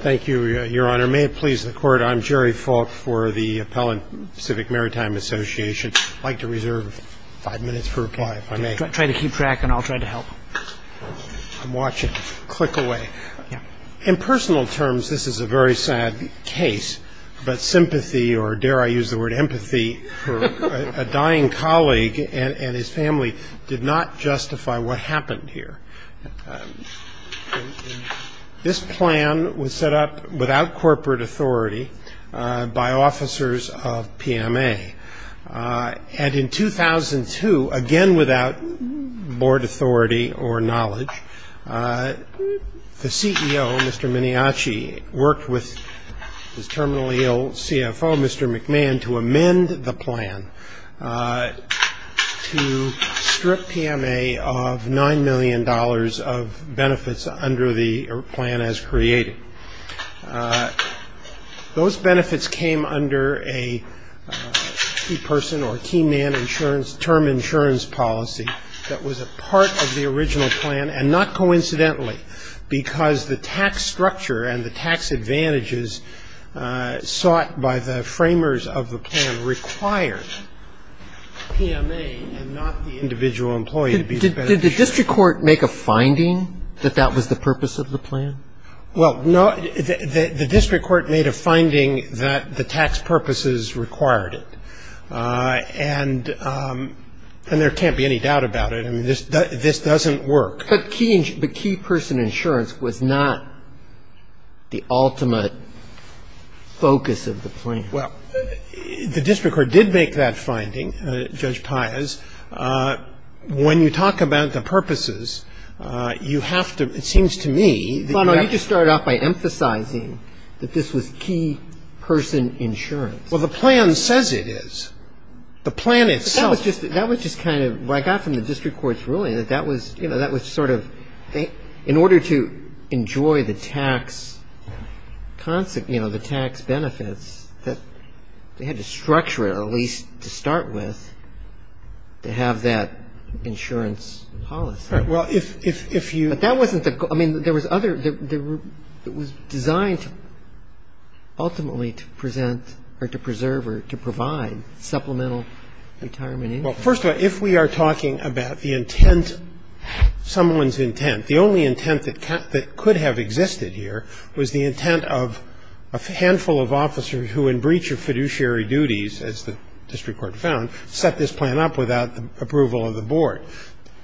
Thank you, Your Honor. May it please the Court, I'm Jerry Falk for the Appellant Pacific Maritime Association. I'd like to reserve five minutes for reply, if I may. Try to keep track and I'll try to help. I'm watching. Click away. In personal terms, this is a very sad case, but sympathy, or dare I use the word empathy, for a dying colleague and his family did not justify what happened here. This plan was set up without corporate authority by officers of PMA. And in 2002, again without board authority or knowledge, the CEO, Mr. Miniace, worked with his terminally ill CFO, Mr. McMahon, to amend the plan to strip PMA of $9 million of benefits under the plan as created. Those benefits came under a key person or key man insurance, term insurance policy that was a part of the original plan, and not coincidentally, because the tax structure and the tax advantages sought by the framers of the plan required PMA and not the individual employee. Did the district court make a finding that that was the purpose of the plan? Well, no. The district court made a finding that the tax purposes required it. And there can't be any doubt about it. I mean, this doesn't work. But key person insurance was not the ultimate focus of the plan. Well, the district court did make that finding, Judge Pius. When you talk about the purposes, you have to – it seems to me that you have to – Well, no. You just started off by emphasizing that this was key person insurance. Well, the plan says it is. The plan itself – That was just kind of – what I got from the district court's ruling, that that was sort of – in order to enjoy the tax benefits, they had to structure it, at least to start with, to have that insurance policy. Right. Well, if you – But that wasn't the – I mean, there was other – it was designed ultimately to present or to preserve or to provide supplemental retirement insurance. Well, first of all, if we are talking about the intent, someone's intent, the only intent that could have existed here was the intent of a handful of officers who, in breach of fiduciary duties, as the district court found, set this plan up without the approval of the board.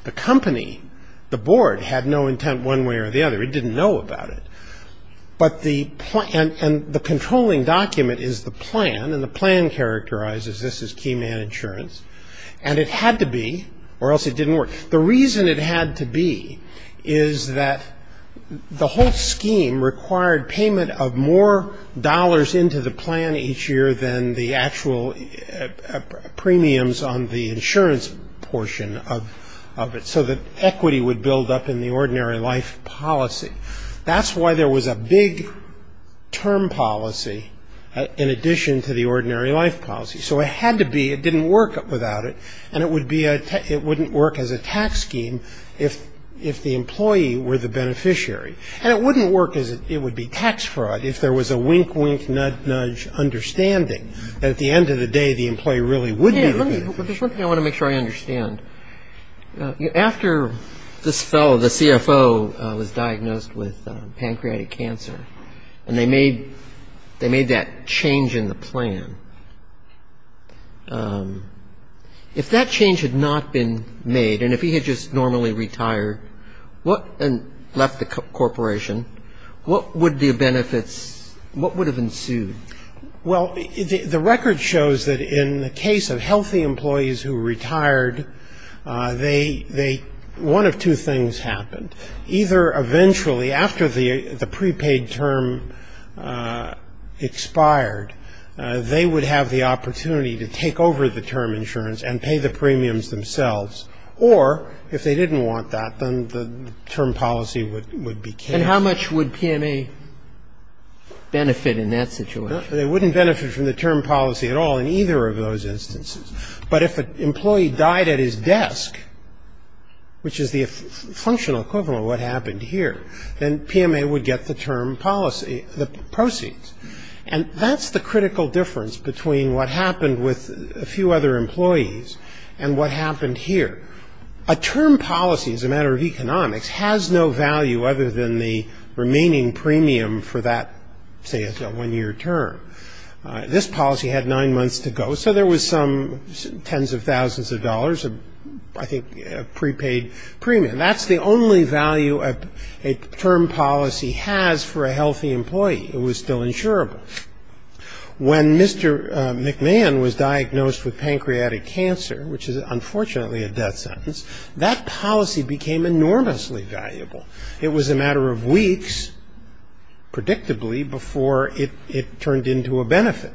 The company, the board, had no intent one way or the other. It didn't know about it. But the – and the controlling document is the plan, and the plan characterizes this as key man insurance. And it had to be, or else it didn't work. The reason it had to be is that the whole scheme required payment of more dollars into the plan each year than the actual premiums on the insurance portion of it, so that equity would build up in the ordinary life policy. That's why there was a big term policy in addition to the ordinary life policy. So it had to be. It didn't work without it. And it would be a – it wouldn't work as a tax scheme if the employee were the beneficiary. And it wouldn't work as it would be tax fraud if there was a wink, wink, nudge, nudge understanding that at the end of the day, the employee really would be the beneficiary. Let me – there's one thing I want to make sure I understand. After this fellow, the CFO, was diagnosed with pancreatic cancer, and they made – they made that change in the plan, If that change had not been made, and if he had just normally retired and left the corporation, what would the benefits – what would have ensued? Well, the record shows that in the case of healthy employees who retired, they – one of two things happened. Either eventually, after the prepaid term expired, they would have the opportunity to take over the term insurance and pay the premiums themselves, or if they didn't want that, then the term policy would be changed. And how much would PMA benefit in that situation? They wouldn't benefit from the term policy at all in either of those instances. But if an employee died at his desk, which is the functional equivalent of what happened here, then PMA would get the term policy – the proceeds. And that's the critical difference between what happened with a few other employees and what happened here. A term policy, as a matter of economics, has no value other than the remaining premium for that, say, a one-year term. This policy had nine months to go, so there was some tens of thousands of dollars of, I think, prepaid premium. That's the only value a term policy has for a healthy employee. It was still insurable. When Mr. McMahon was diagnosed with pancreatic cancer, which is unfortunately a death sentence, that policy became enormously valuable. It was a matter of weeks, predictably, before it turned into a benefit.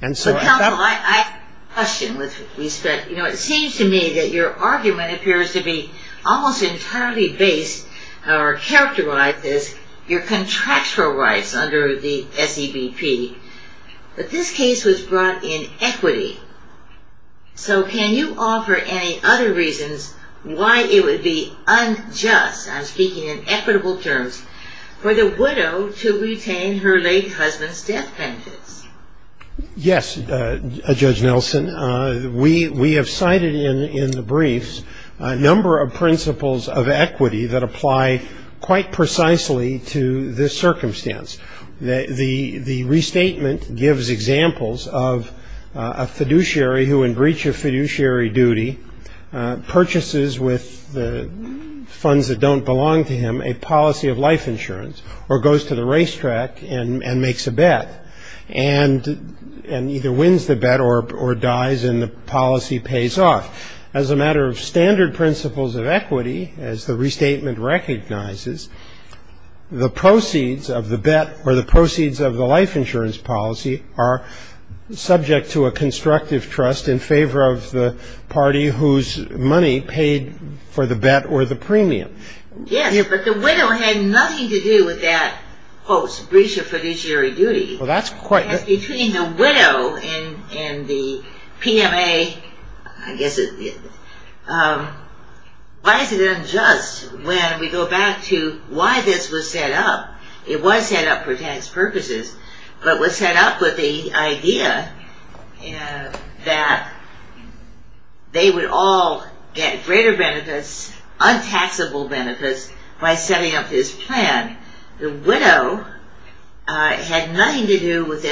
And so at that point – Well, counsel, I have a question with respect. You know, it seems to me that your argument appears to be almost entirely based or characterized as your contractual rights under the SEBP. But this case was brought in equity. So can you offer any other reasons why it would be unjust – I'm speaking in equitable terms – for the widow to retain her late husband's death penance? Yes, Judge Nelson. We have cited in the briefs a number of principles of equity that apply quite precisely to this circumstance. The restatement gives examples of a fiduciary who, in breach of fiduciary duty, purchases with the funds that don't belong to him a policy of life insurance or goes to the racetrack and makes a bet and either wins the bet or dies and the policy pays off. As a matter of standard principles of equity, as the restatement recognizes, the proceeds of the bet or the proceeds of the life insurance policy are subject to a constructive trust in favor of the party whose money paid for the bet or the premium. Yes, but the widow had nothing to do with that, quote, breach of fiduciary duty. Between the widow and the PMA, I guess, why is it unjust when we go back to why this was set up? It was set up for tax purposes, but was set up with the idea that they would all get greater benefits, untaxable benefits, by setting up this plan. The widow had nothing to do with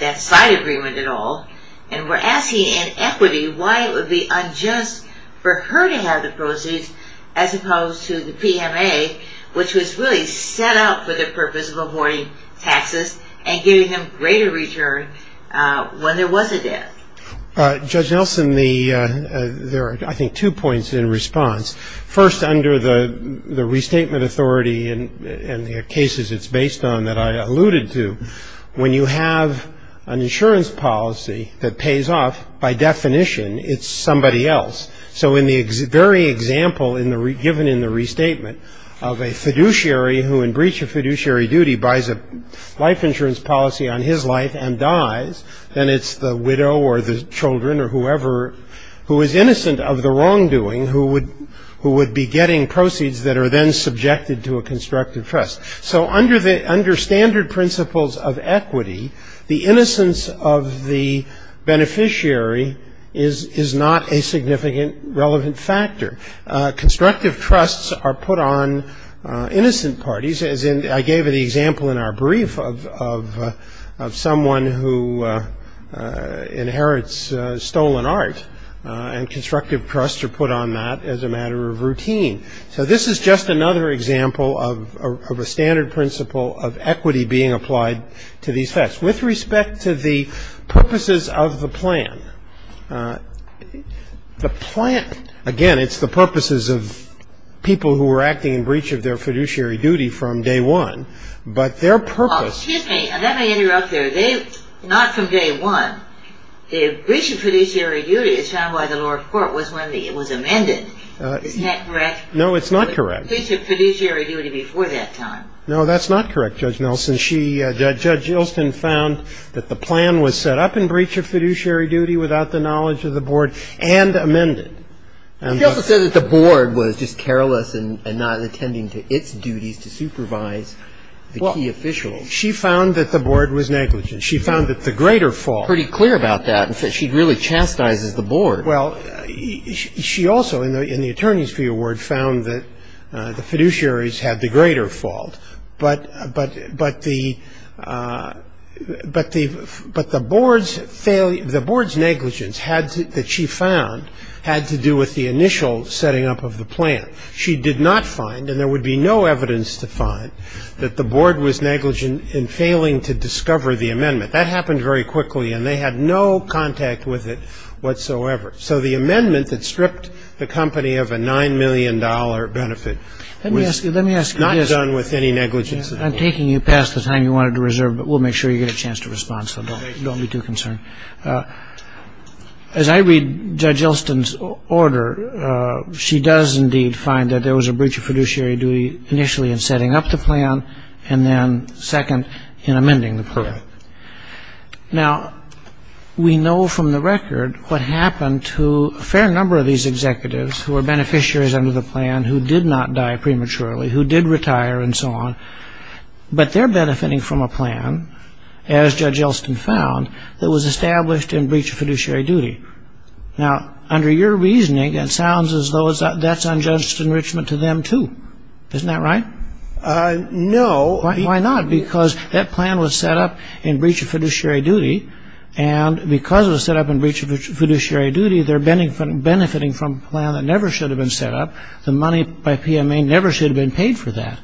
that side agreement at all and we're asking in equity why it would be unjust for her to have the proceeds as opposed to the PMA, which was really set up for the purpose of avoiding taxes and giving them greater return when there was a debt. Judge Nelson, there are, I think, two points in response. First, under the restatement authority and the cases it's based on that I alluded to, when you have an insurance policy that pays off, by definition, it's somebody else. So in the very example given in the restatement of a fiduciary who in breach of fiduciary duty buys a life insurance policy on his life and dies, then it's the widow or the children or whoever who is innocent of the wrongdoing who would be getting proceeds that are then subjected to a constructive trust. So under standard principles of equity, the innocence of the beneficiary is not a significant relevant factor. Constructive trusts are put on innocent parties, as I gave an example in our brief of someone who inherits stolen art, and constructive trusts are put on that as a matter of routine. So this is just another example of a standard principle of equity being applied to these facts. With respect to the purposes of the plan, the plan, again, it's the purposes of people who were acting in breach of their fiduciary duty from day one, but their purpose- Excuse me. Let me interrupt there. Not from day one. The breach of fiduciary duty is found by the lower court was when it was amended. Isn't that correct? No, it's not correct. The breach of fiduciary duty before that time. No, that's not correct, Judge Nelson. Judge Ilston found that the plan was set up in breach of fiduciary duty without the knowledge of the board and amended. She also said that the board was just careless and not attending to its duties to supervise the key officials. She found that the board was negligent. She found that the greater fault- Pretty clear about that. She really chastises the board. Well, she also, in the attorney's view, found that the fiduciaries had the greater fault, but the board's negligence that she found had to do with the initial setting up of the plan. She did not find, and there would be no evidence to find, that the board was negligent in failing to discover the amendment. That happened very quickly, and they had no contact with it whatsoever. So the amendment that stripped the company of a $9 million benefit was not done with any negligence. I'm taking you past the time you wanted to reserve, but we'll make sure you get a chance to respond, so don't be too concerned. As I read Judge Ilston's order, she does indeed find that there was a breach of fiduciary duty initially in setting up the plan and then, second, in amending the plan. Correct. Now, we know from the record what happened to a fair number of these executives who were beneficiaries under the plan, who did not die prematurely, who did retire and so on, but they're benefiting from a plan, as Judge Ilston found, that was established in breach of fiduciary duty. Now, under your reasoning, it sounds as though that's unjust enrichment to them, too. Isn't that right? No. Why not? Because that plan was set up in breach of fiduciary duty, and because it was set up in breach of fiduciary duty, they're benefiting from a plan that never should have been set up. The money by PMA never should have been paid for that.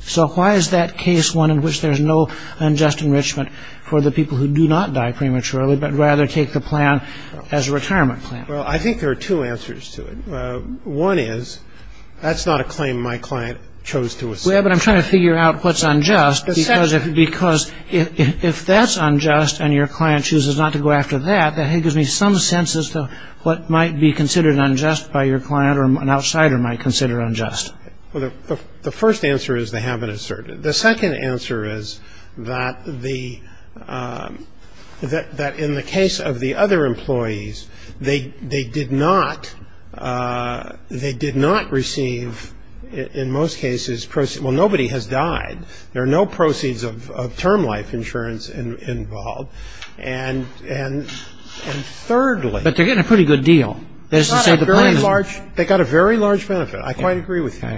So why is that case one in which there's no unjust enrichment for the people who do not die prematurely but rather take the plan as a retirement plan? Well, I think there are two answers to it. One is that's not a claim my client chose to assert. Yeah, but I'm trying to figure out what's unjust, because if that's unjust and your client chooses not to go after that, that gives me some sense as to what might be considered unjust by your client or an outsider might consider unjust. Well, the first answer is they haven't asserted it. The second answer is that in the case of the other employees, they did not receive, in most cases, proceeds. Well, nobody has died. There are no proceeds of term life insurance involved. And thirdly... But they're getting a pretty good deal. They got a very large benefit. I quite agree with you.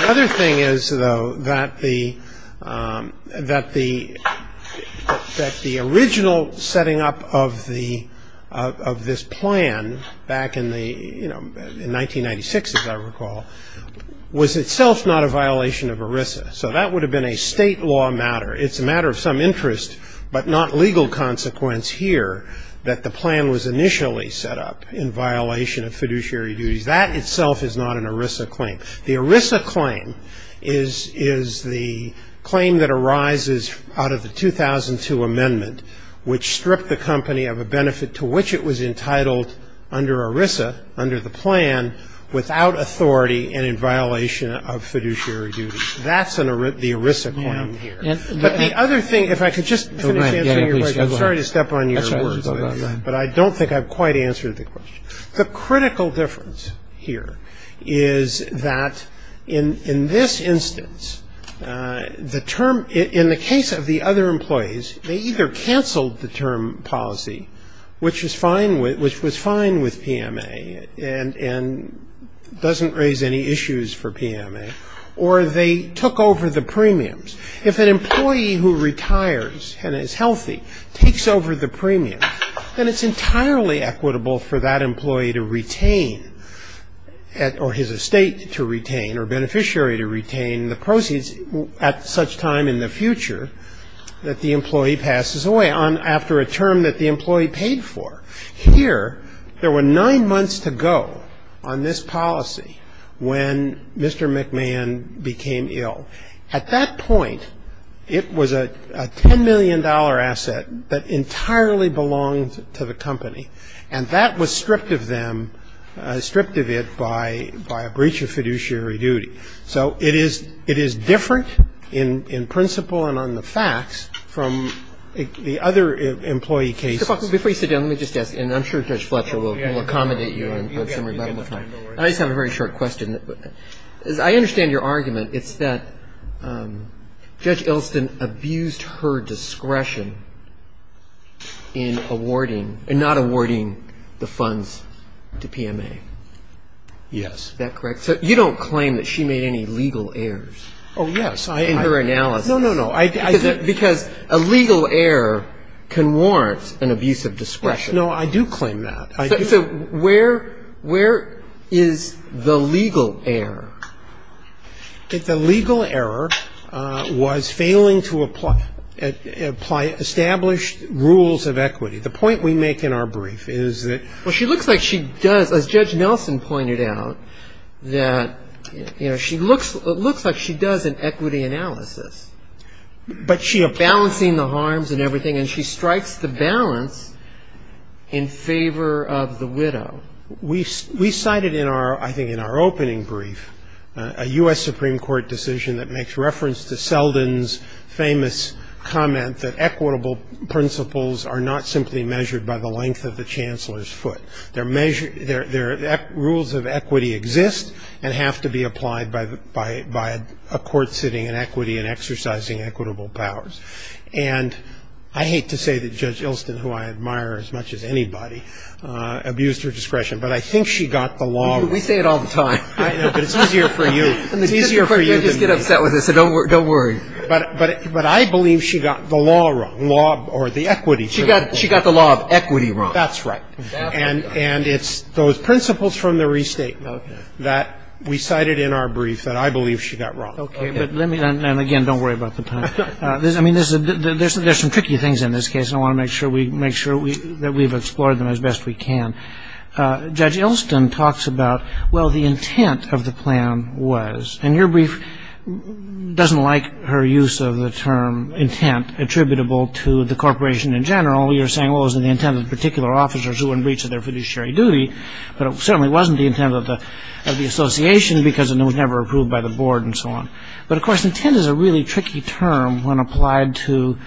The other thing is, though, that the original setting up of this plan back in 1996, as I recall, was itself not a violation of ERISA. So that would have been a state law matter. It's a matter of some interest but not legal consequence here that the plan was initially set up in violation of fiduciary duties. That itself is not an ERISA claim. The ERISA claim is the claim that arises out of the 2002 amendment, which stripped the company of a benefit to which it was entitled under ERISA, under the plan, without authority and in violation of fiduciary duties. That's the ERISA claim here. But the other thing, if I could just finish answering your question. I'm sorry to step on your word, but I don't think I've quite answered the question. The critical difference here is that in this instance, in the case of the other employees, they either canceled the term policy, which was fine with PMA and doesn't raise any issues for PMA, or they took over the premiums. If an employee who retires and is healthy takes over the premium, then it's entirely equitable for that employee to retain, or his estate to retain or beneficiary to retain the proceeds at such time in the future that the employee passes away after a term that the employee paid for. Here, there were nine months to go on this policy when Mr. McMahon became ill. At that point, it was a $10 million asset that entirely belonged to the company. And that was stripped of them, stripped of it by a breach of fiduciary duty. So it is different in principle and on the facts from the other employee cases. Mr. Faulkner, before you sit down, let me just ask, and I'm sure Judge Fletcher will accommodate you in some rebuttal time. I just have a very short question. I understand your argument. It's that Judge Elston abused her discretion in awarding, in not awarding the funds to PMA. Yes. Is that correct? You don't claim that she made any legal errors in her analysis. No, no, no. Because a legal error can warrant an abuse of discretion. No, I do claim that. So where is the legal error? The legal error was failing to apply established rules of equity. The point we make in our brief is that ---- Well, she looks like she does, as Judge Nelson pointed out, that, you know, she looks like she does an equity analysis. But she applies ---- We cited in our, I think in our opening brief, a U.S. Supreme Court decision that makes reference to Selden's famous comment that equitable principles are not simply measured by the length of the Chancellor's foot. Rules of equity exist and have to be applied by a court sitting in equity and exercising equitable powers. And I hate to say that Judge Ilston, who I admire as much as anybody, abused her discretion. But I think she got the law wrong. We say it all the time. I know, but it's easier for you. It's easier for you than me. I just get upset with it, so don't worry. But I believe she got the law wrong, law or the equity. She got the law of equity wrong. That's right. And it's those principles from the restatement that we cited in our brief that I believe she got wrong. Okay. But let me, and again, don't worry about the time. I mean, there's some tricky things in this case, and I want to make sure that we've explored them as best we can. Judge Ilston talks about, well, the intent of the plan was. And your brief doesn't like her use of the term intent attributable to the corporation in general. You're saying, well, it was the intent of particular officers who were in breach of their fiduciary duty, but it certainly wasn't the intent of the association because it was never approved by the board and so on. But, of course, intent is a really tricky term when applied to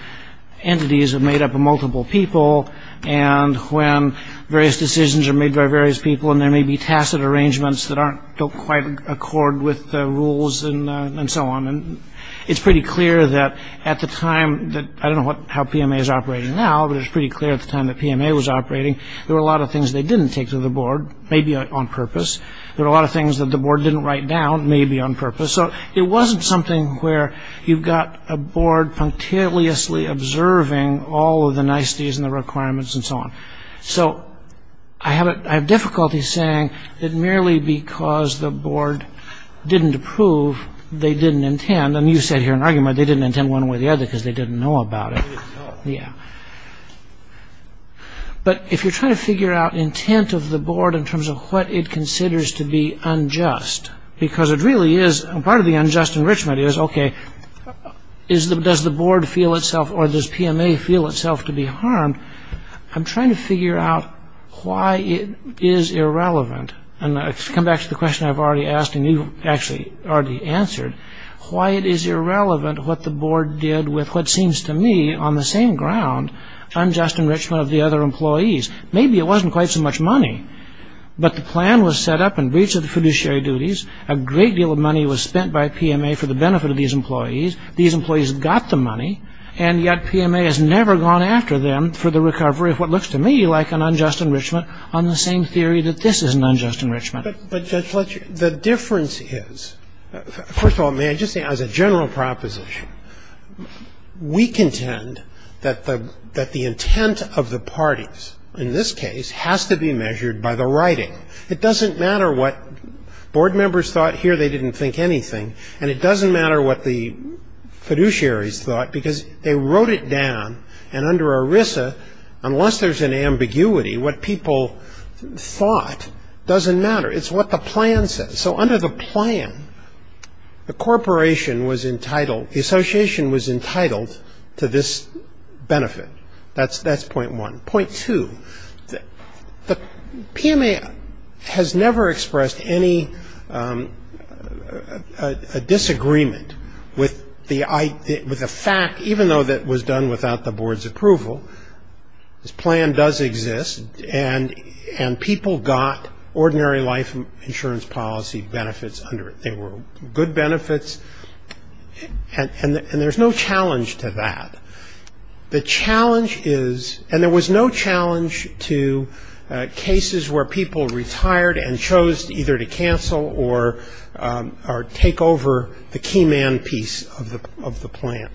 entities made up of multiple people and when various decisions are made by various people and there may be tacit arrangements that don't quite accord with the rules and so on. And it's pretty clear that at the time that, I don't know how PMA is operating now, but it was pretty clear at the time that PMA was operating, there were a lot of things they didn't take to the board, maybe on purpose. There were a lot of things that the board didn't write down, maybe on purpose. So it wasn't something where you've got a board punctiliously observing all of the niceties and the requirements and so on. So I have difficulty saying that merely because the board didn't approve, they didn't intend. And you said here in argument they didn't intend one way or the other because they didn't know about it. Yeah. But if you're trying to figure out intent of the board in terms of what it considers to be unjust, because it really is, and part of the unjust enrichment is, okay, does the board feel itself or does PMA feel itself to be harmed? I'm trying to figure out why it is irrelevant. And to come back to the question I've already asked and you've actually already answered, why it is irrelevant what the board did with what seems to me, on the same ground, unjust enrichment of the other employees. Maybe it wasn't quite so much money, but the plan was set up in breach of the fiduciary duties, a great deal of money was spent by PMA for the benefit of these employees, these employees got the money, and yet PMA has never gone after them for the recovery of what looks to me like an unjust enrichment on the same theory that this is an unjust enrichment. But Judge Fletcher, the difference is, first of all, may I just say as a general proposition, we contend that the intent of the parties, in this case, has to be measured by the writing. It doesn't matter what board members thought here, they didn't think anything, and it doesn't matter what the fiduciaries thought because they wrote it down, and under ERISA, unless there's an ambiguity, what people thought doesn't matter. It's what the plan says. So under the plan, the corporation was entitled, the association was entitled to this benefit. That's point one. Point two, the PMA has never expressed any disagreement with the fact, even though that was done without the board's approval, this plan does exist, and people got ordinary life insurance policy benefits under it. They were good benefits, and there's no challenge to that. The challenge is, and there was no challenge to cases where people retired and chose either to cancel or take over the key man piece of the plan.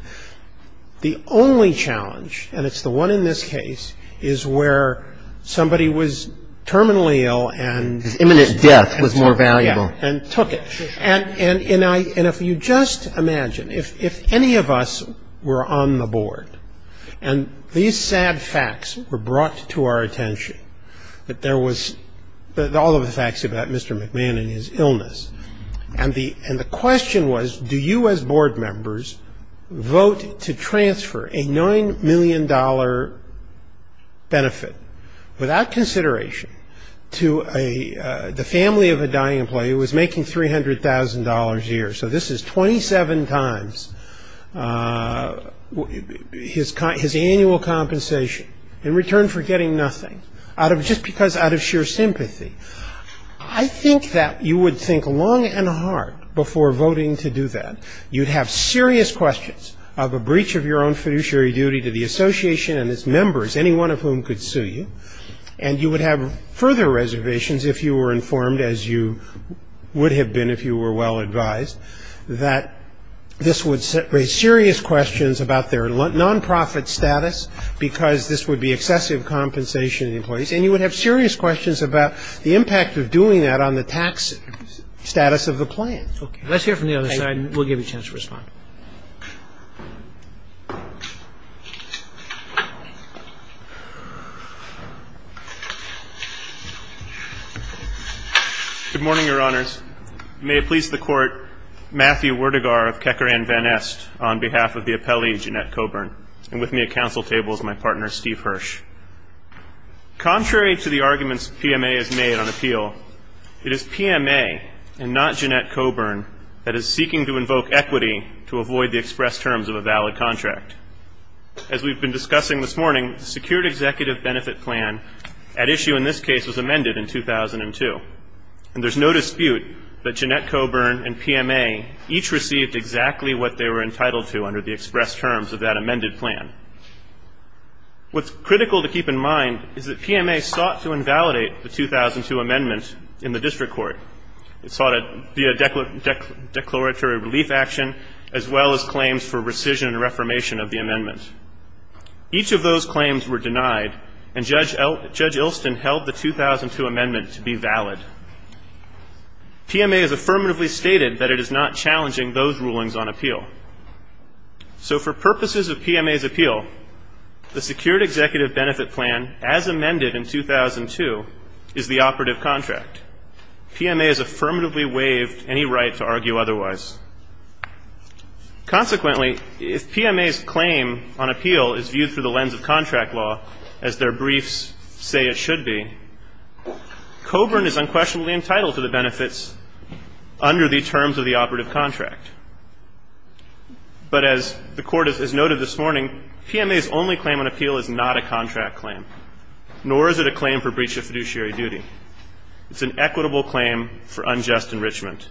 The only challenge, and it's the one in this case, is where somebody was terminally ill and His imminent death was more valuable. And if you just imagine, if any of us were on the board, and these sad facts were brought to our attention, that there was all of the facts about Mr. McMahon and his illness, and the question was, do you as board members vote to transfer a $9 million benefit without consideration to the family of a dying employee who was making $300,000 a year. So this is 27 times his annual compensation in return for getting nothing, just because out of sheer sympathy. I think that you would think long and hard before voting to do that. You'd have serious questions of a breach of your own fiduciary duty to the association and its members, any one of whom could sue you. And you would have further reservations if you were informed, as you would have been if you were well advised, that this would raise serious questions about their nonprofit status, because this would be excessive compensation to the employees. And you would have serious questions about the impact of doing that on the tax status of the plan. Let's hear from the other side, and we'll give you a chance to respond. Good morning, Your Honors. May it please the Court, Matthew Werdegar of Kecker and Van Est, on behalf of the appellee, Jeanette Coburn, and with me at council table is my partner, Steve Hirsch. Contrary to the arguments PMA has made on appeal, it is PMA and not Jeanette Coburn that is seeking to invoke equity to avoid the express terms of a valid contract. As we've been discussing this morning, the secured executive benefit plan at issue in this case was amended in 2002. And there's no dispute that Jeanette Coburn and PMA each received exactly what they were entitled to under the express terms of that amended plan. What's critical to keep in mind is that PMA sought to invalidate the 2002 amendment in the district court. It sought a declaratory relief action, as well as claims for rescission and reformation of the amendment. Each of those claims were denied, and Judge Ilston held the 2002 amendment to be valid. PMA has affirmatively stated that it is not challenging those rulings on appeal. So for purposes of PMA's appeal, the secured executive benefit plan as amended in 2002 is the operative contract. PMA has affirmatively waived any right to argue otherwise. Consequently, if PMA's claim on appeal is viewed through the lens of contract law, as their briefs say it should be, Coburn is unquestionably entitled to the benefits under the terms of the operative contract. But as the Court has noted this morning, PMA's only claim on appeal is not a contract claim, nor is it a claim for breach of fiduciary duty. It's an equitable claim for unjust enrichment.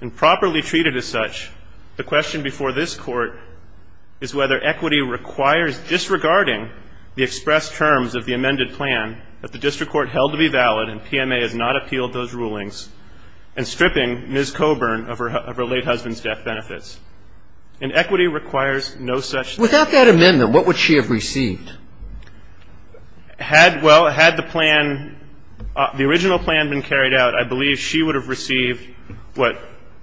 And properly treated as such, the question before this Court is whether equity requires, disregarding the expressed terms of the amended plan that the district court held to be valid and PMA has not appealed those rulings, and stripping Ms. Coburn of her late husband's death benefits. And equity requires no such thing. Without that amendment, what would she have received? Had, well, had the plan, the original plan been carried out, I believe she would have received what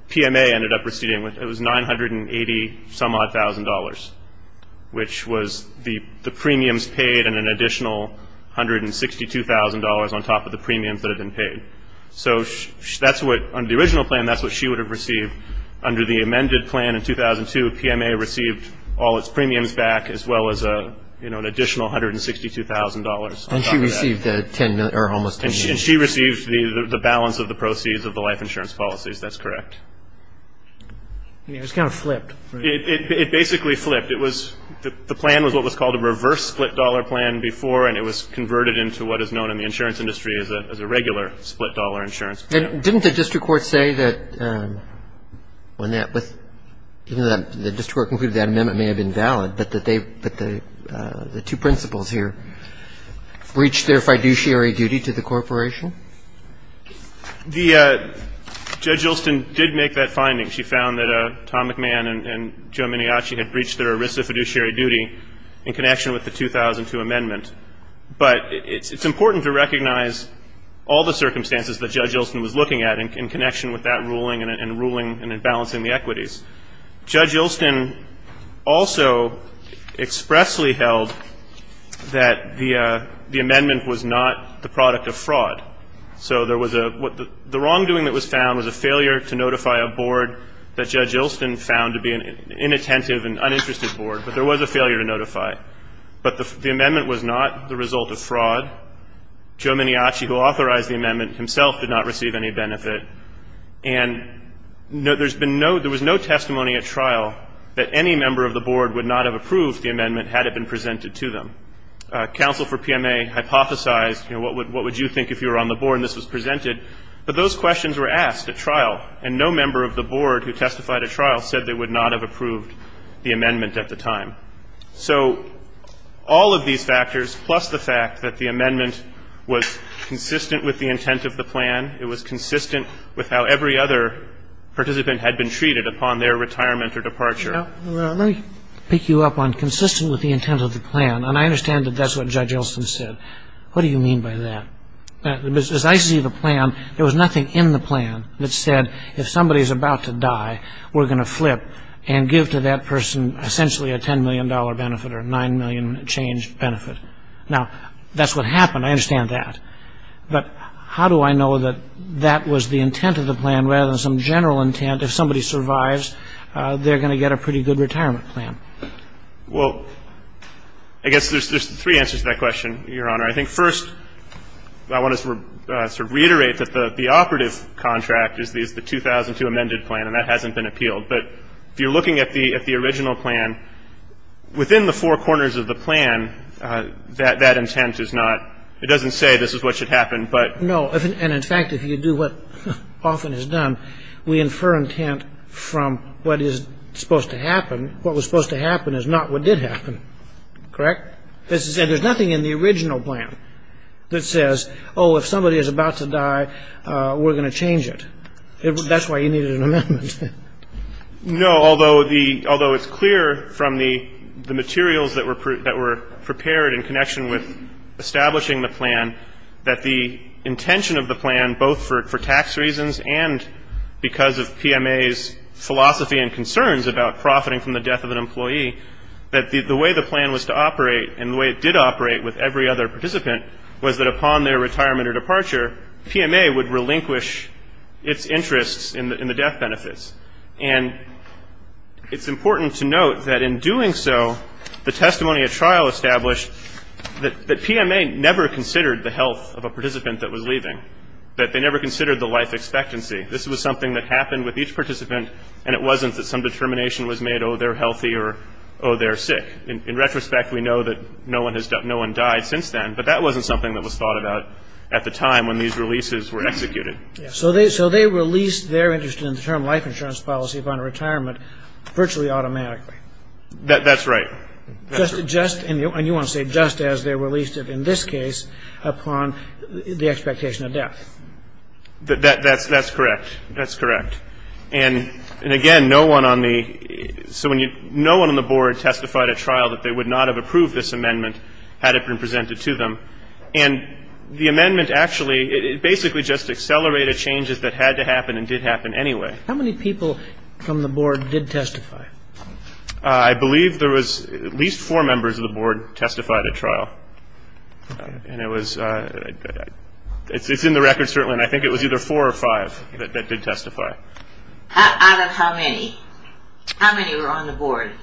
PMA ended up receiving. It was $980-some-odd thousand dollars, which was the premiums paid and an additional $162,000 on top of the premiums that had been paid. So that's what, under the original plan, that's what she would have received. Under the amended plan in 2002, PMA received all its premiums back, as well as an additional $162,000 on top of that. And she received almost $10 million. And she received the balance of the proceeds of the life insurance policies. That's correct. I mean, it was kind of flipped. It basically flipped. It was, the plan was what was called a reverse split dollar plan before, and it was converted into what is known in the insurance industry as a regular split dollar insurance plan. Didn't the district court say that when that was, the district court concluded that amendment may have been valid, but that they, the two principals here breached their fiduciary duty to the corporation? The, Judge Ilston did make that finding. She found that Tom McMahon and Joe Mineachi had breached their ERISA fiduciary duty in connection with the 2002 amendment. But it's important to recognize all the circumstances that Judge Ilston was looking at in connection with that ruling and in balancing the equities. Judge Ilston also expressly held that the amendment was not the product of fraud. So there was a, the wrongdoing that was found was a failure to notify a board that Judge Ilston found to be an inattentive and uninterested board. But there was a failure to notify. But the amendment was not the result of fraud. Joe Mineachi, who authorized the amendment himself, did not receive any benefit. And there's been no, there was no testimony at trial that any member of the board would not have approved the amendment had it been presented to them. Counsel for PMA hypothesized, you know, what would you think if you were on the board and this was presented? But those questions were asked at trial. And no member of the board who testified at trial said they would not have approved the amendment at the time. So all of these factors, plus the fact that the amendment was consistent with the intent of the plan, it was consistent with how every other participant had been treated upon their retirement or departure. Let me pick you up on consistent with the intent of the plan. And I understand that that's what Judge Ilston said. What do you mean by that? As I see the plan, there was nothing in the plan that said if somebody is about to die, we're going to flip and give to that person essentially a $10 million benefit or a $9 million change benefit. Now, that's what happened. I understand that. But how do I know that that was the intent of the plan rather than some general intent? Well, I guess there's three answers to that question, Your Honor. I think first I want to sort of reiterate that the operative contract is the 2002 amended plan, and that hasn't been appealed. But if you're looking at the original plan, within the four corners of the plan, that intent is not – it doesn't say this is what should happen, but – No. And, in fact, if you do what often is done, we infer in cases like this, from what is supposed to happen, what was supposed to happen is not what did happen. Correct? And there's nothing in the original plan that says, oh, if somebody is about to die, we're going to change it. That's why you needed an amendment. No, although it's clear from the materials that were prepared in connection with establishing the plan that the intention of the plan, both for tax reasons and because of PMA's philosophy and concerns about profiting from the death of an employee, that the way the plan was to operate and the way it did operate with every other participant was that upon their retirement or departure, PMA would relinquish its interests in the death benefits. And it's important to note that in doing so, the testimony at trial established that PMA never considered the health of a participant that was leaving, that they never considered the life expectancy. This was something that happened with each participant, and it wasn't that some determination was made, oh, they're healthy or, oh, they're sick. In retrospect, we know that no one died since then, but that wasn't something that was thought about at the time when these releases were executed. So they released their interest in the term life insurance policy upon retirement virtually automatically. That's right. And you want to say just as they released it in this case upon the expectation of death. That's correct. That's correct. And again, no one on the board testified at trial that they would not have approved this amendment had it been presented to them. And the amendment actually basically just accelerated changes that had to happen and did happen anyway. How many people from the board did testify? I believe there was at least four members of the board testified at trial, and it's in the record certainly, and I think it was either four or five that did testify. Out of how many? How many were on the board?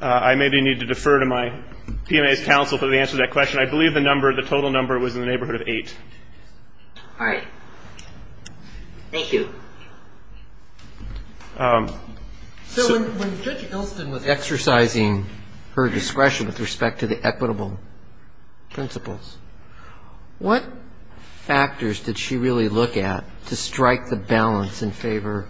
I maybe need to defer to my PMA's counsel for the answer to that question. I believe the total number was in the neighborhood of eight. All right. Thank you. So when Judge Ilston was exercising her discretion with respect to the equitable principles, what factors did she really look at to strike the balance in favor?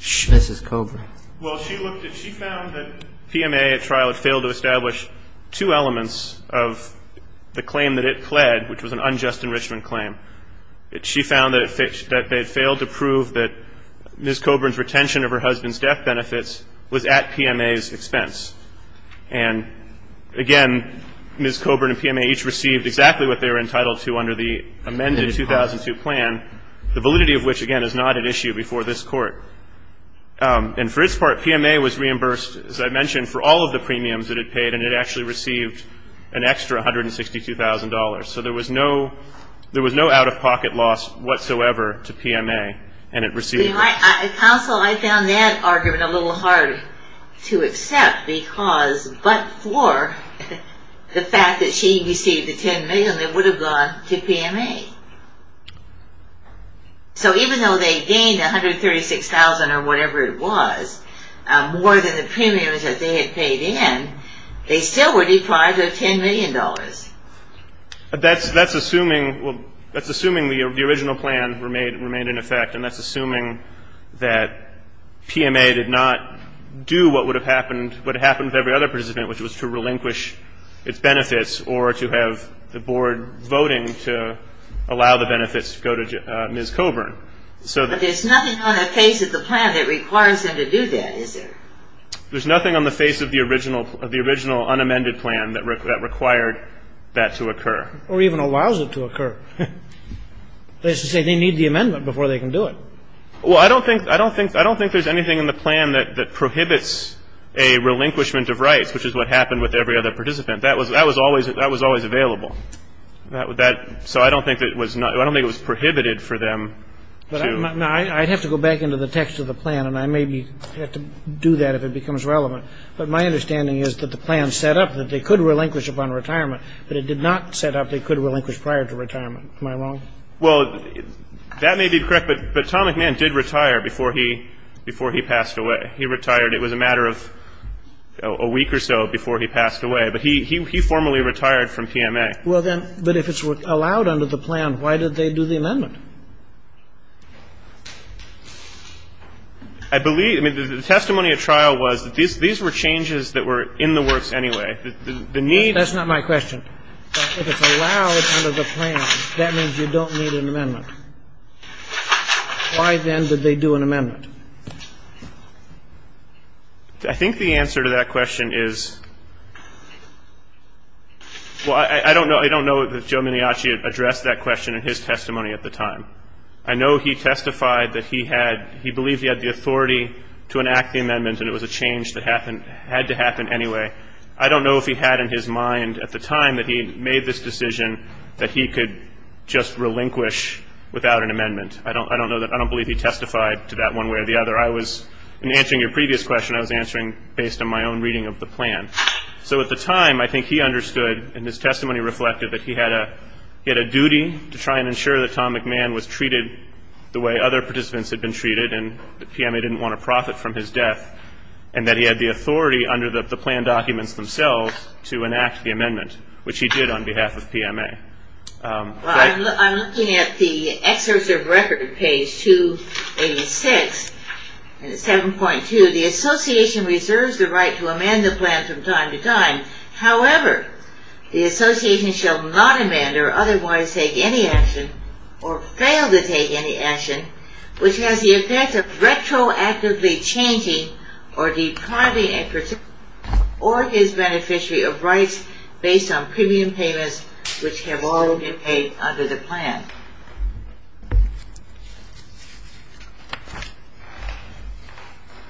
Mrs. Coburn. Well, she looked at, she found that PMA at trial had failed to establish two elements of the claim that it pled, which was an unjust enrichment claim. She found that they had failed to prove that Ms. Coburn's retention of her husband's death benefits was at PMA's expense. And, again, Ms. Coburn and PMA each received exactly what they were entitled to under the amended 2002 plan, the validity of which, again, is not at issue before this Court. And for its part, PMA was reimbursed, as I mentioned, for all of the premiums it had paid, and it actually received an extra $162,000. So there was no out-of-pocket loss whatsoever to PMA, and it received it. Counsel, I found that argument a little hard to accept because but for the fact that she received the $10 million, they would have gone to PMA. So even though they gained $136,000 or whatever it was, more than the premiums that they had paid in, they still were deprived of $10 million. That's assuming the original plan remained in effect, and that's assuming that PMA did not do what would have happened with every other participant, which was to relinquish its benefits or to have the board voting to allow the benefits to go to Ms. Coburn. But there's nothing on the face of the plan that requires them to do that, is there? There's nothing on the face of the original unamended plan that required that to occur. Or even allows it to occur. That is to say, they need the amendment before they can do it. Well, I don't think there's anything in the plan that prohibits a relinquishment of rights, which is what happened with every other participant. That was always available. So I don't think it was prohibited for them. I'd have to go back into the text of the plan, and I may have to do that if it becomes relevant. But my understanding is that the plan set up that they could relinquish upon retirement, but it did not set up they could relinquish prior to retirement. Am I wrong? Well, that may be correct, but Tom McMahon did retire before he passed away. He retired, it was a matter of a week or so before he passed away. But he formally retired from PMA. Well, then, but if it's allowed under the plan, why did they do the amendment? I believe the testimony at trial was that these were changes that were in the works anyway. The need. That's not my question. If it's allowed under the plan, that means you don't need an amendment. Why, then, did they do an amendment? I think the answer to that question is, well, I don't know that Joe Mignacci addressed that question in his testimony at the time. I know he testified that he had, he believed he had the authority to enact the amendment, and it was a change that had to happen anyway. I don't know if he had in his mind at the time that he made this decision that he could just relinquish without an amendment. In answering your previous question, I was answering based on my own reading of the plan. So at the time, I think he understood, and his testimony reflected, that he had a duty to try and ensure that Tom McMahon was treated the way other participants had been treated and that PMA didn't want to profit from his death, and that he had the authority under the plan documents themselves to enact the amendment, which he did on behalf of PMA. Well, I'm looking at the excerpts of record, page 286, 7.2. The association reserves the right to amend the plan from time to time. However, the association shall not amend or otherwise take any action or fail to take any action which has the effect of retroactively changing or depriving a participant or his beneficiary of rights based on premium payments which have already been paid under the plan.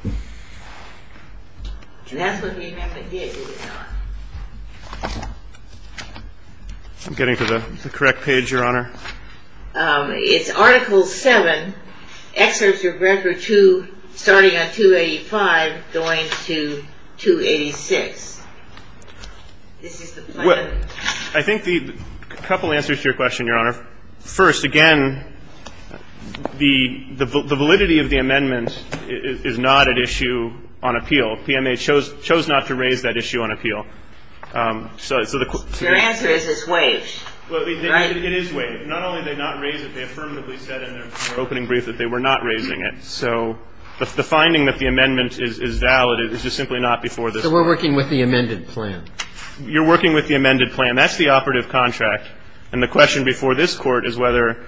And that's what the amendment did, it did not. I'm getting to the correct page, Your Honor. It's Article 7, Excerpts of Record 2, starting on 285, going to 286. This is the plan. Well, I think the couple answers to your question, Your Honor. First, again, the validity of the amendment is not at issue on appeal. PMA chose not to raise that issue on appeal. Your answer is it's waived, right? It is waived. Not only did they not raise it, they affirmatively said in their opening brief that they were not raising it. So we're working with the amended plan. You're working with the amended plan. That's the operative contract. And the question before this Court is whether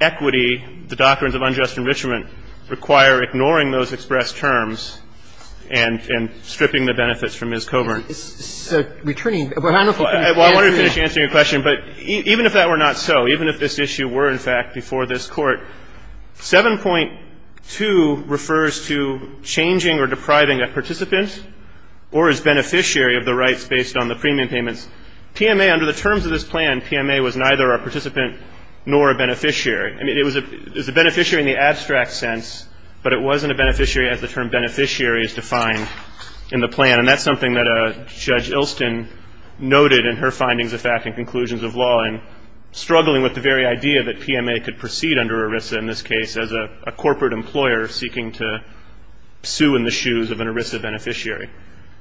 equity, the doctrines of unjust enrichment, require ignoring those expressed terms and stripping the benefits from Ms. Coburn. So returning to your question, but even if that were not so, even if this issue were, in fact, before this Court, 7.2 refers to changing or depriving a participant or his beneficiary of the rights based on the premium payments. PMA, under the terms of this plan, PMA was neither a participant nor a beneficiary. I mean, it was a beneficiary in the abstract sense, but it wasn't a beneficiary as the term beneficiary is defined in the plan. And that's something that Judge Ilston noted in her findings of fact and conclusions of law and struggling with the very idea that PMA could proceed under ERISA in this case as a corporate employer seeking to sue in the shoes of an ERISA beneficiary.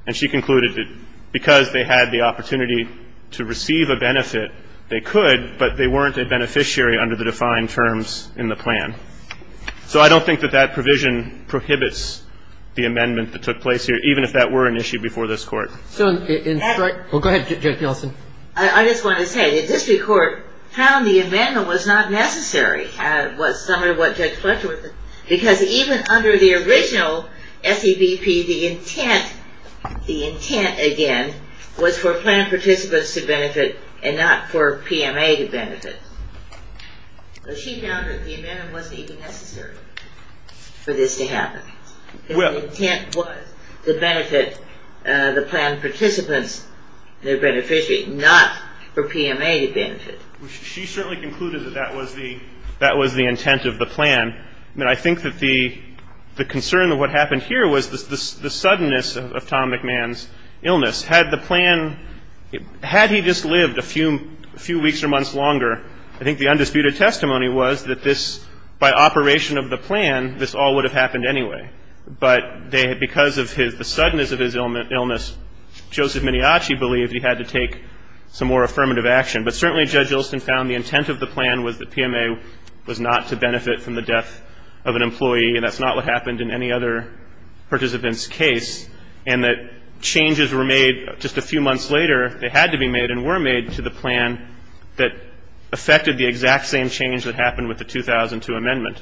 And she concluded that because they had the opportunity to receive a benefit, they could, but they weren't a beneficiary under the defined terms in the plan. So I don't think that that provision prohibits the amendment that took place here, even if that were an issue before this Court. Well, go ahead, Judge Ilston. I just want to say the district court found the amendment was not necessary, was some of what Judge Fletcher was saying, because even under the original SEBP, the intent, the intent, again, was for plan participants to benefit and not for PMA to benefit. But she found that the amendment wasn't even necessary for this to happen. The intent was to benefit the plan participants, their beneficiary, not for PMA to benefit. She certainly concluded that that was the intent of the plan. I think that the concern of what happened here was the suddenness of Tom McMahon's illness. Had the plan, had he just lived a few weeks or months longer, I think the undisputed testimony was that this, by operation of the plan, this all would have happened anyway. But because of the suddenness of his illness, Joseph Mineachi believed he had to take some more affirmative action. But certainly Judge Ilston found the intent of the plan was that PMA was not to benefit from the death of an employee, and that's not what happened in any other participant's case, and that changes were made just a few months later that had to be made and were made to the plan that affected the exact same change that happened with the 2002 amendment.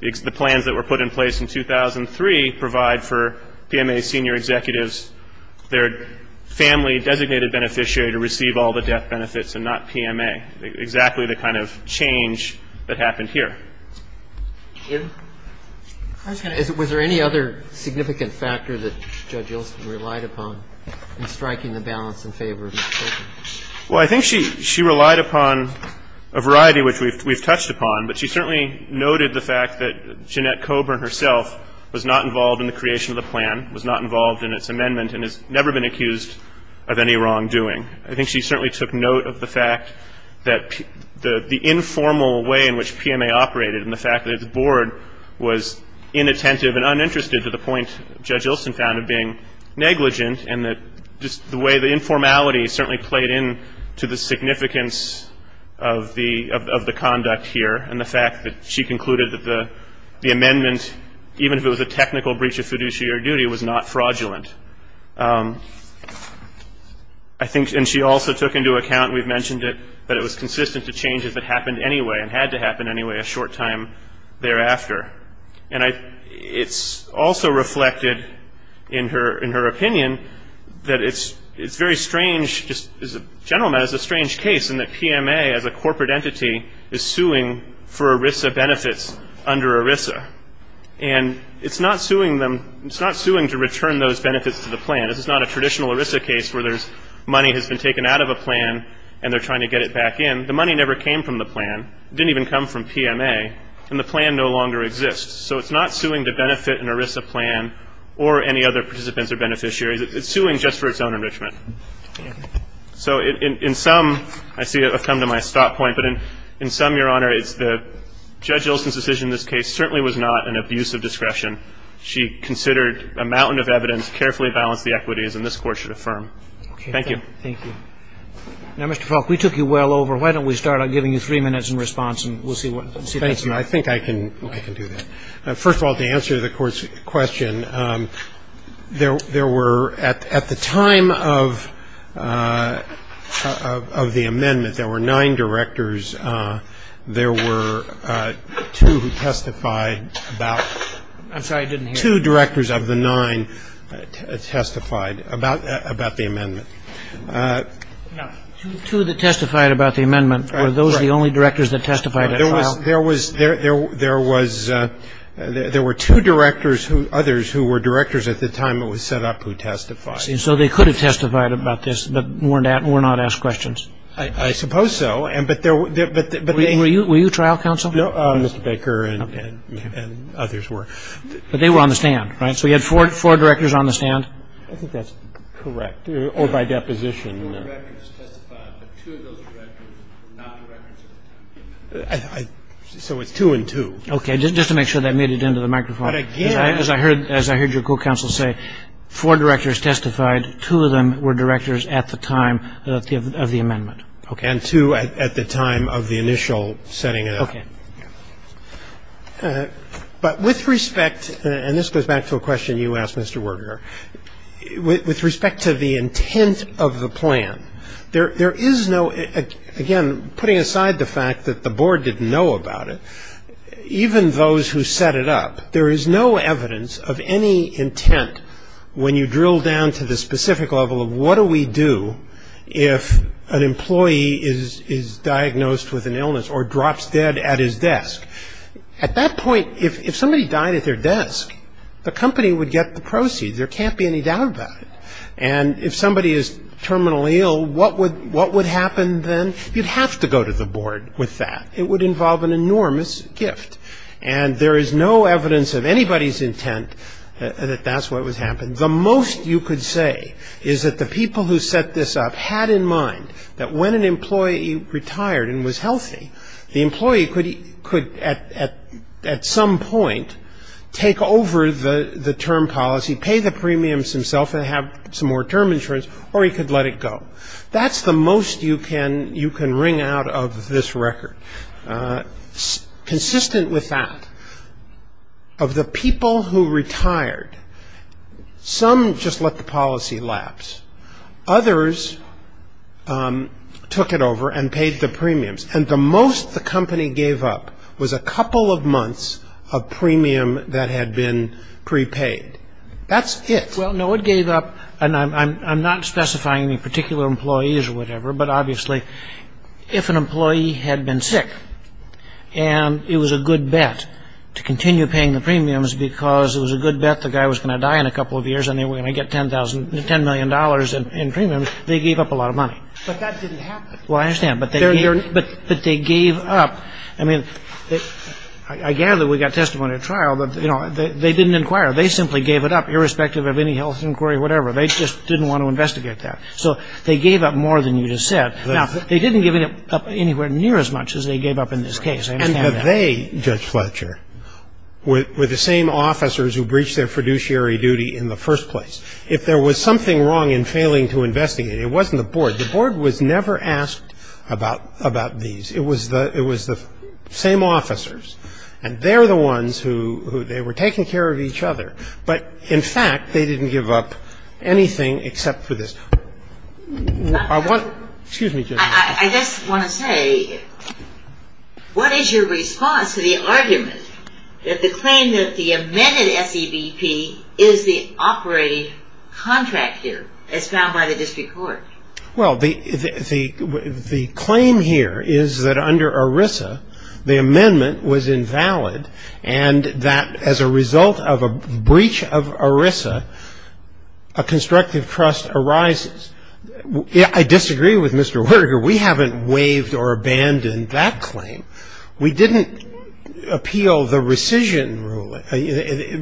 The plans that were put in place in 2003 provide for PMA senior executives, their family designated beneficiary to receive all the death benefits and not PMA, exactly the kind of change that happened here. I was going to ask, was there any other significant factor that Judge Ilston relied upon in striking the balance in favor of Ms. Colvin? Well, I think she relied upon a variety which we've touched upon, but she certainly noted the fact that Jeanette Coburn herself was not involved in the creation of the plan, was not involved in its amendment, and has never been accused of any wrongdoing. I think she certainly took note of the fact that the informal way in which PMA operated and the fact that its board was inattentive and uninterested to the point Judge Ilston found of being negligent and that just the way the informality certainly played into the significance of the conduct here and the fact that she concluded that the amendment, even if it was a technical breach of fiduciary duty, was not fraudulent. I think, and she also took into account, we've mentioned it, that it was consistent to changes that happened anyway and had to happen anyway a short time thereafter. And it's also reflected in her opinion that it's very strange, just as a gentleman, as a strange case in that PMA as a corporate entity is suing for ERISA benefits under ERISA. And it's not suing to return those benefits to the plan. This is not a traditional ERISA case where money has been taken out of a plan and they're trying to get it back in. The money never came from the plan. It didn't even come from PMA, and the plan no longer exists. So it's not suing to benefit an ERISA plan or any other participants or beneficiaries. It's suing just for its own enrichment. So in some, I see I've come to my stop point, but in some, Your Honor, it's the Judge Ilson's decision in this case certainly was not an abuse of discretion. She considered a mountain of evidence, carefully balanced the equities, and this Court should affirm. Thank you. Roberts. Thank you. Now, Mr. Faulk, we took you well over. Why don't we start out giving you three minutes in response and we'll see what happens. I think I can do that. First of all, to answer the Court's question, there were, at the time of the amendment, there were nine directors. There were two who testified about. I'm sorry, I didn't hear you. Two directors of the nine testified about the amendment. No, two that testified about the amendment. Were those the only directors that testified at trial? There were two directors, others who were directors at the time it was set up, who testified. So they could have testified about this, but were not asked questions? I suppose so. Were you trial counsel? No, Mr. Baker and others were. But they were on the stand, right? So you had four directors on the stand? I think that's correct, or by deposition. Four directors testified, but two of those directors were not directors at the time. So it's two and two. Okay. Just to make sure that made it into the microphone. As I heard your court counsel say, four directors testified, two of them were directors at the time of the amendment. Okay. And two at the time of the initial setting up. Okay. But with respect, and this goes back to a question you asked, Mr. Werger, with respect to the intent of the plan, there is no, again, putting aside the fact that the board didn't know about it, even those who set it up, there is no evidence of any intent when you drill down to the specific level of what do we do if an employee is diagnosed with an illness or drops dead at his desk? At that point, if somebody died at their desk, the company would get the proceeds. There can't be any doubt about it. And if somebody is terminally ill, what would happen then? You'd have to go to the board with that. It would involve an enormous gift. And there is no evidence of anybody's intent that that's what was happening. The most you could say is that the people who set this up had in mind that when an employee retired and was healthy, the employee could at some point take over the term policy, pay the premiums himself and have some more term insurance, or he could let it go. That's the most you can wring out of this record. Consistent with that, of the people who retired, some just let the policy lapse. Others took it over and paid the premiums. And the most the company gave up was a couple of months of premium that had been prepaid. That's it. Well, no, it gave up, and I'm not specifying any particular employees or whatever, but obviously if an employee had been sick and it was a good bet to continue paying the premiums because it was a good bet the guy was going to die in a couple of years and they were going to get $10 million in premiums, they gave up a lot of money. But that didn't happen. Well, I understand, but they gave up. I mean, I gather we got testimony at trial, but they didn't inquire. They simply gave it up, irrespective of any health inquiry or whatever. They just didn't want to investigate that. So they gave up more than you just said. Now, they didn't give it up anywhere near as much as they gave up in this case. And they, Judge Fletcher, were the same officers who breached their fiduciary duty in the first place. If there was something wrong in failing to investigate, it wasn't the board. The board was never asked about these. It was the same officers, and they're the ones who they were taking care of each other. But, in fact, they didn't give up anything except for this. Excuse me, Judge. I just want to say, what is your response to the argument that the claim that the amended SEBP is the operating contract here as found by the district court? Well, the claim here is that under ERISA, the amendment was invalid and that as a result of a breach of ERISA, a constructive trust arises. I disagree with Mr. Werger. We haven't waived or abandoned that claim. We didn't appeal the rescission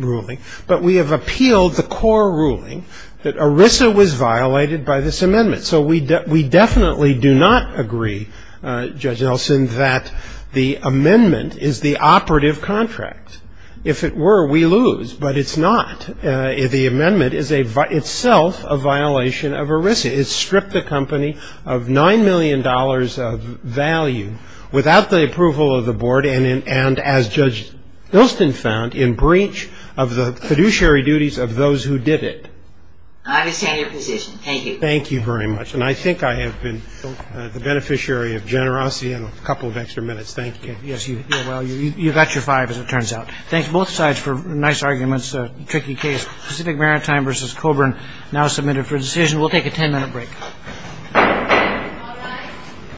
ruling, but we have appealed the core ruling that ERISA was violated by this amendment. So we definitely do not agree, Judge Nelson, that the amendment is the operative contract. If it were, we lose. But it's not. The amendment is itself a violation of ERISA. It stripped the company of $9 million of value without the approval of the board and, as Judge Hilston found, in breach of the fiduciary duties of those who did it. I understand your position. Thank you. Thank you very much. And I think I have been the beneficiary of generosity and a couple of extra minutes. Thank you. Yes, you have. Well, you've got your five, as it turns out. Thank you, both sides, for nice arguments. A tricky case. Pacific Maritime v. Coburn now submitted for decision. We'll take a 10-minute break.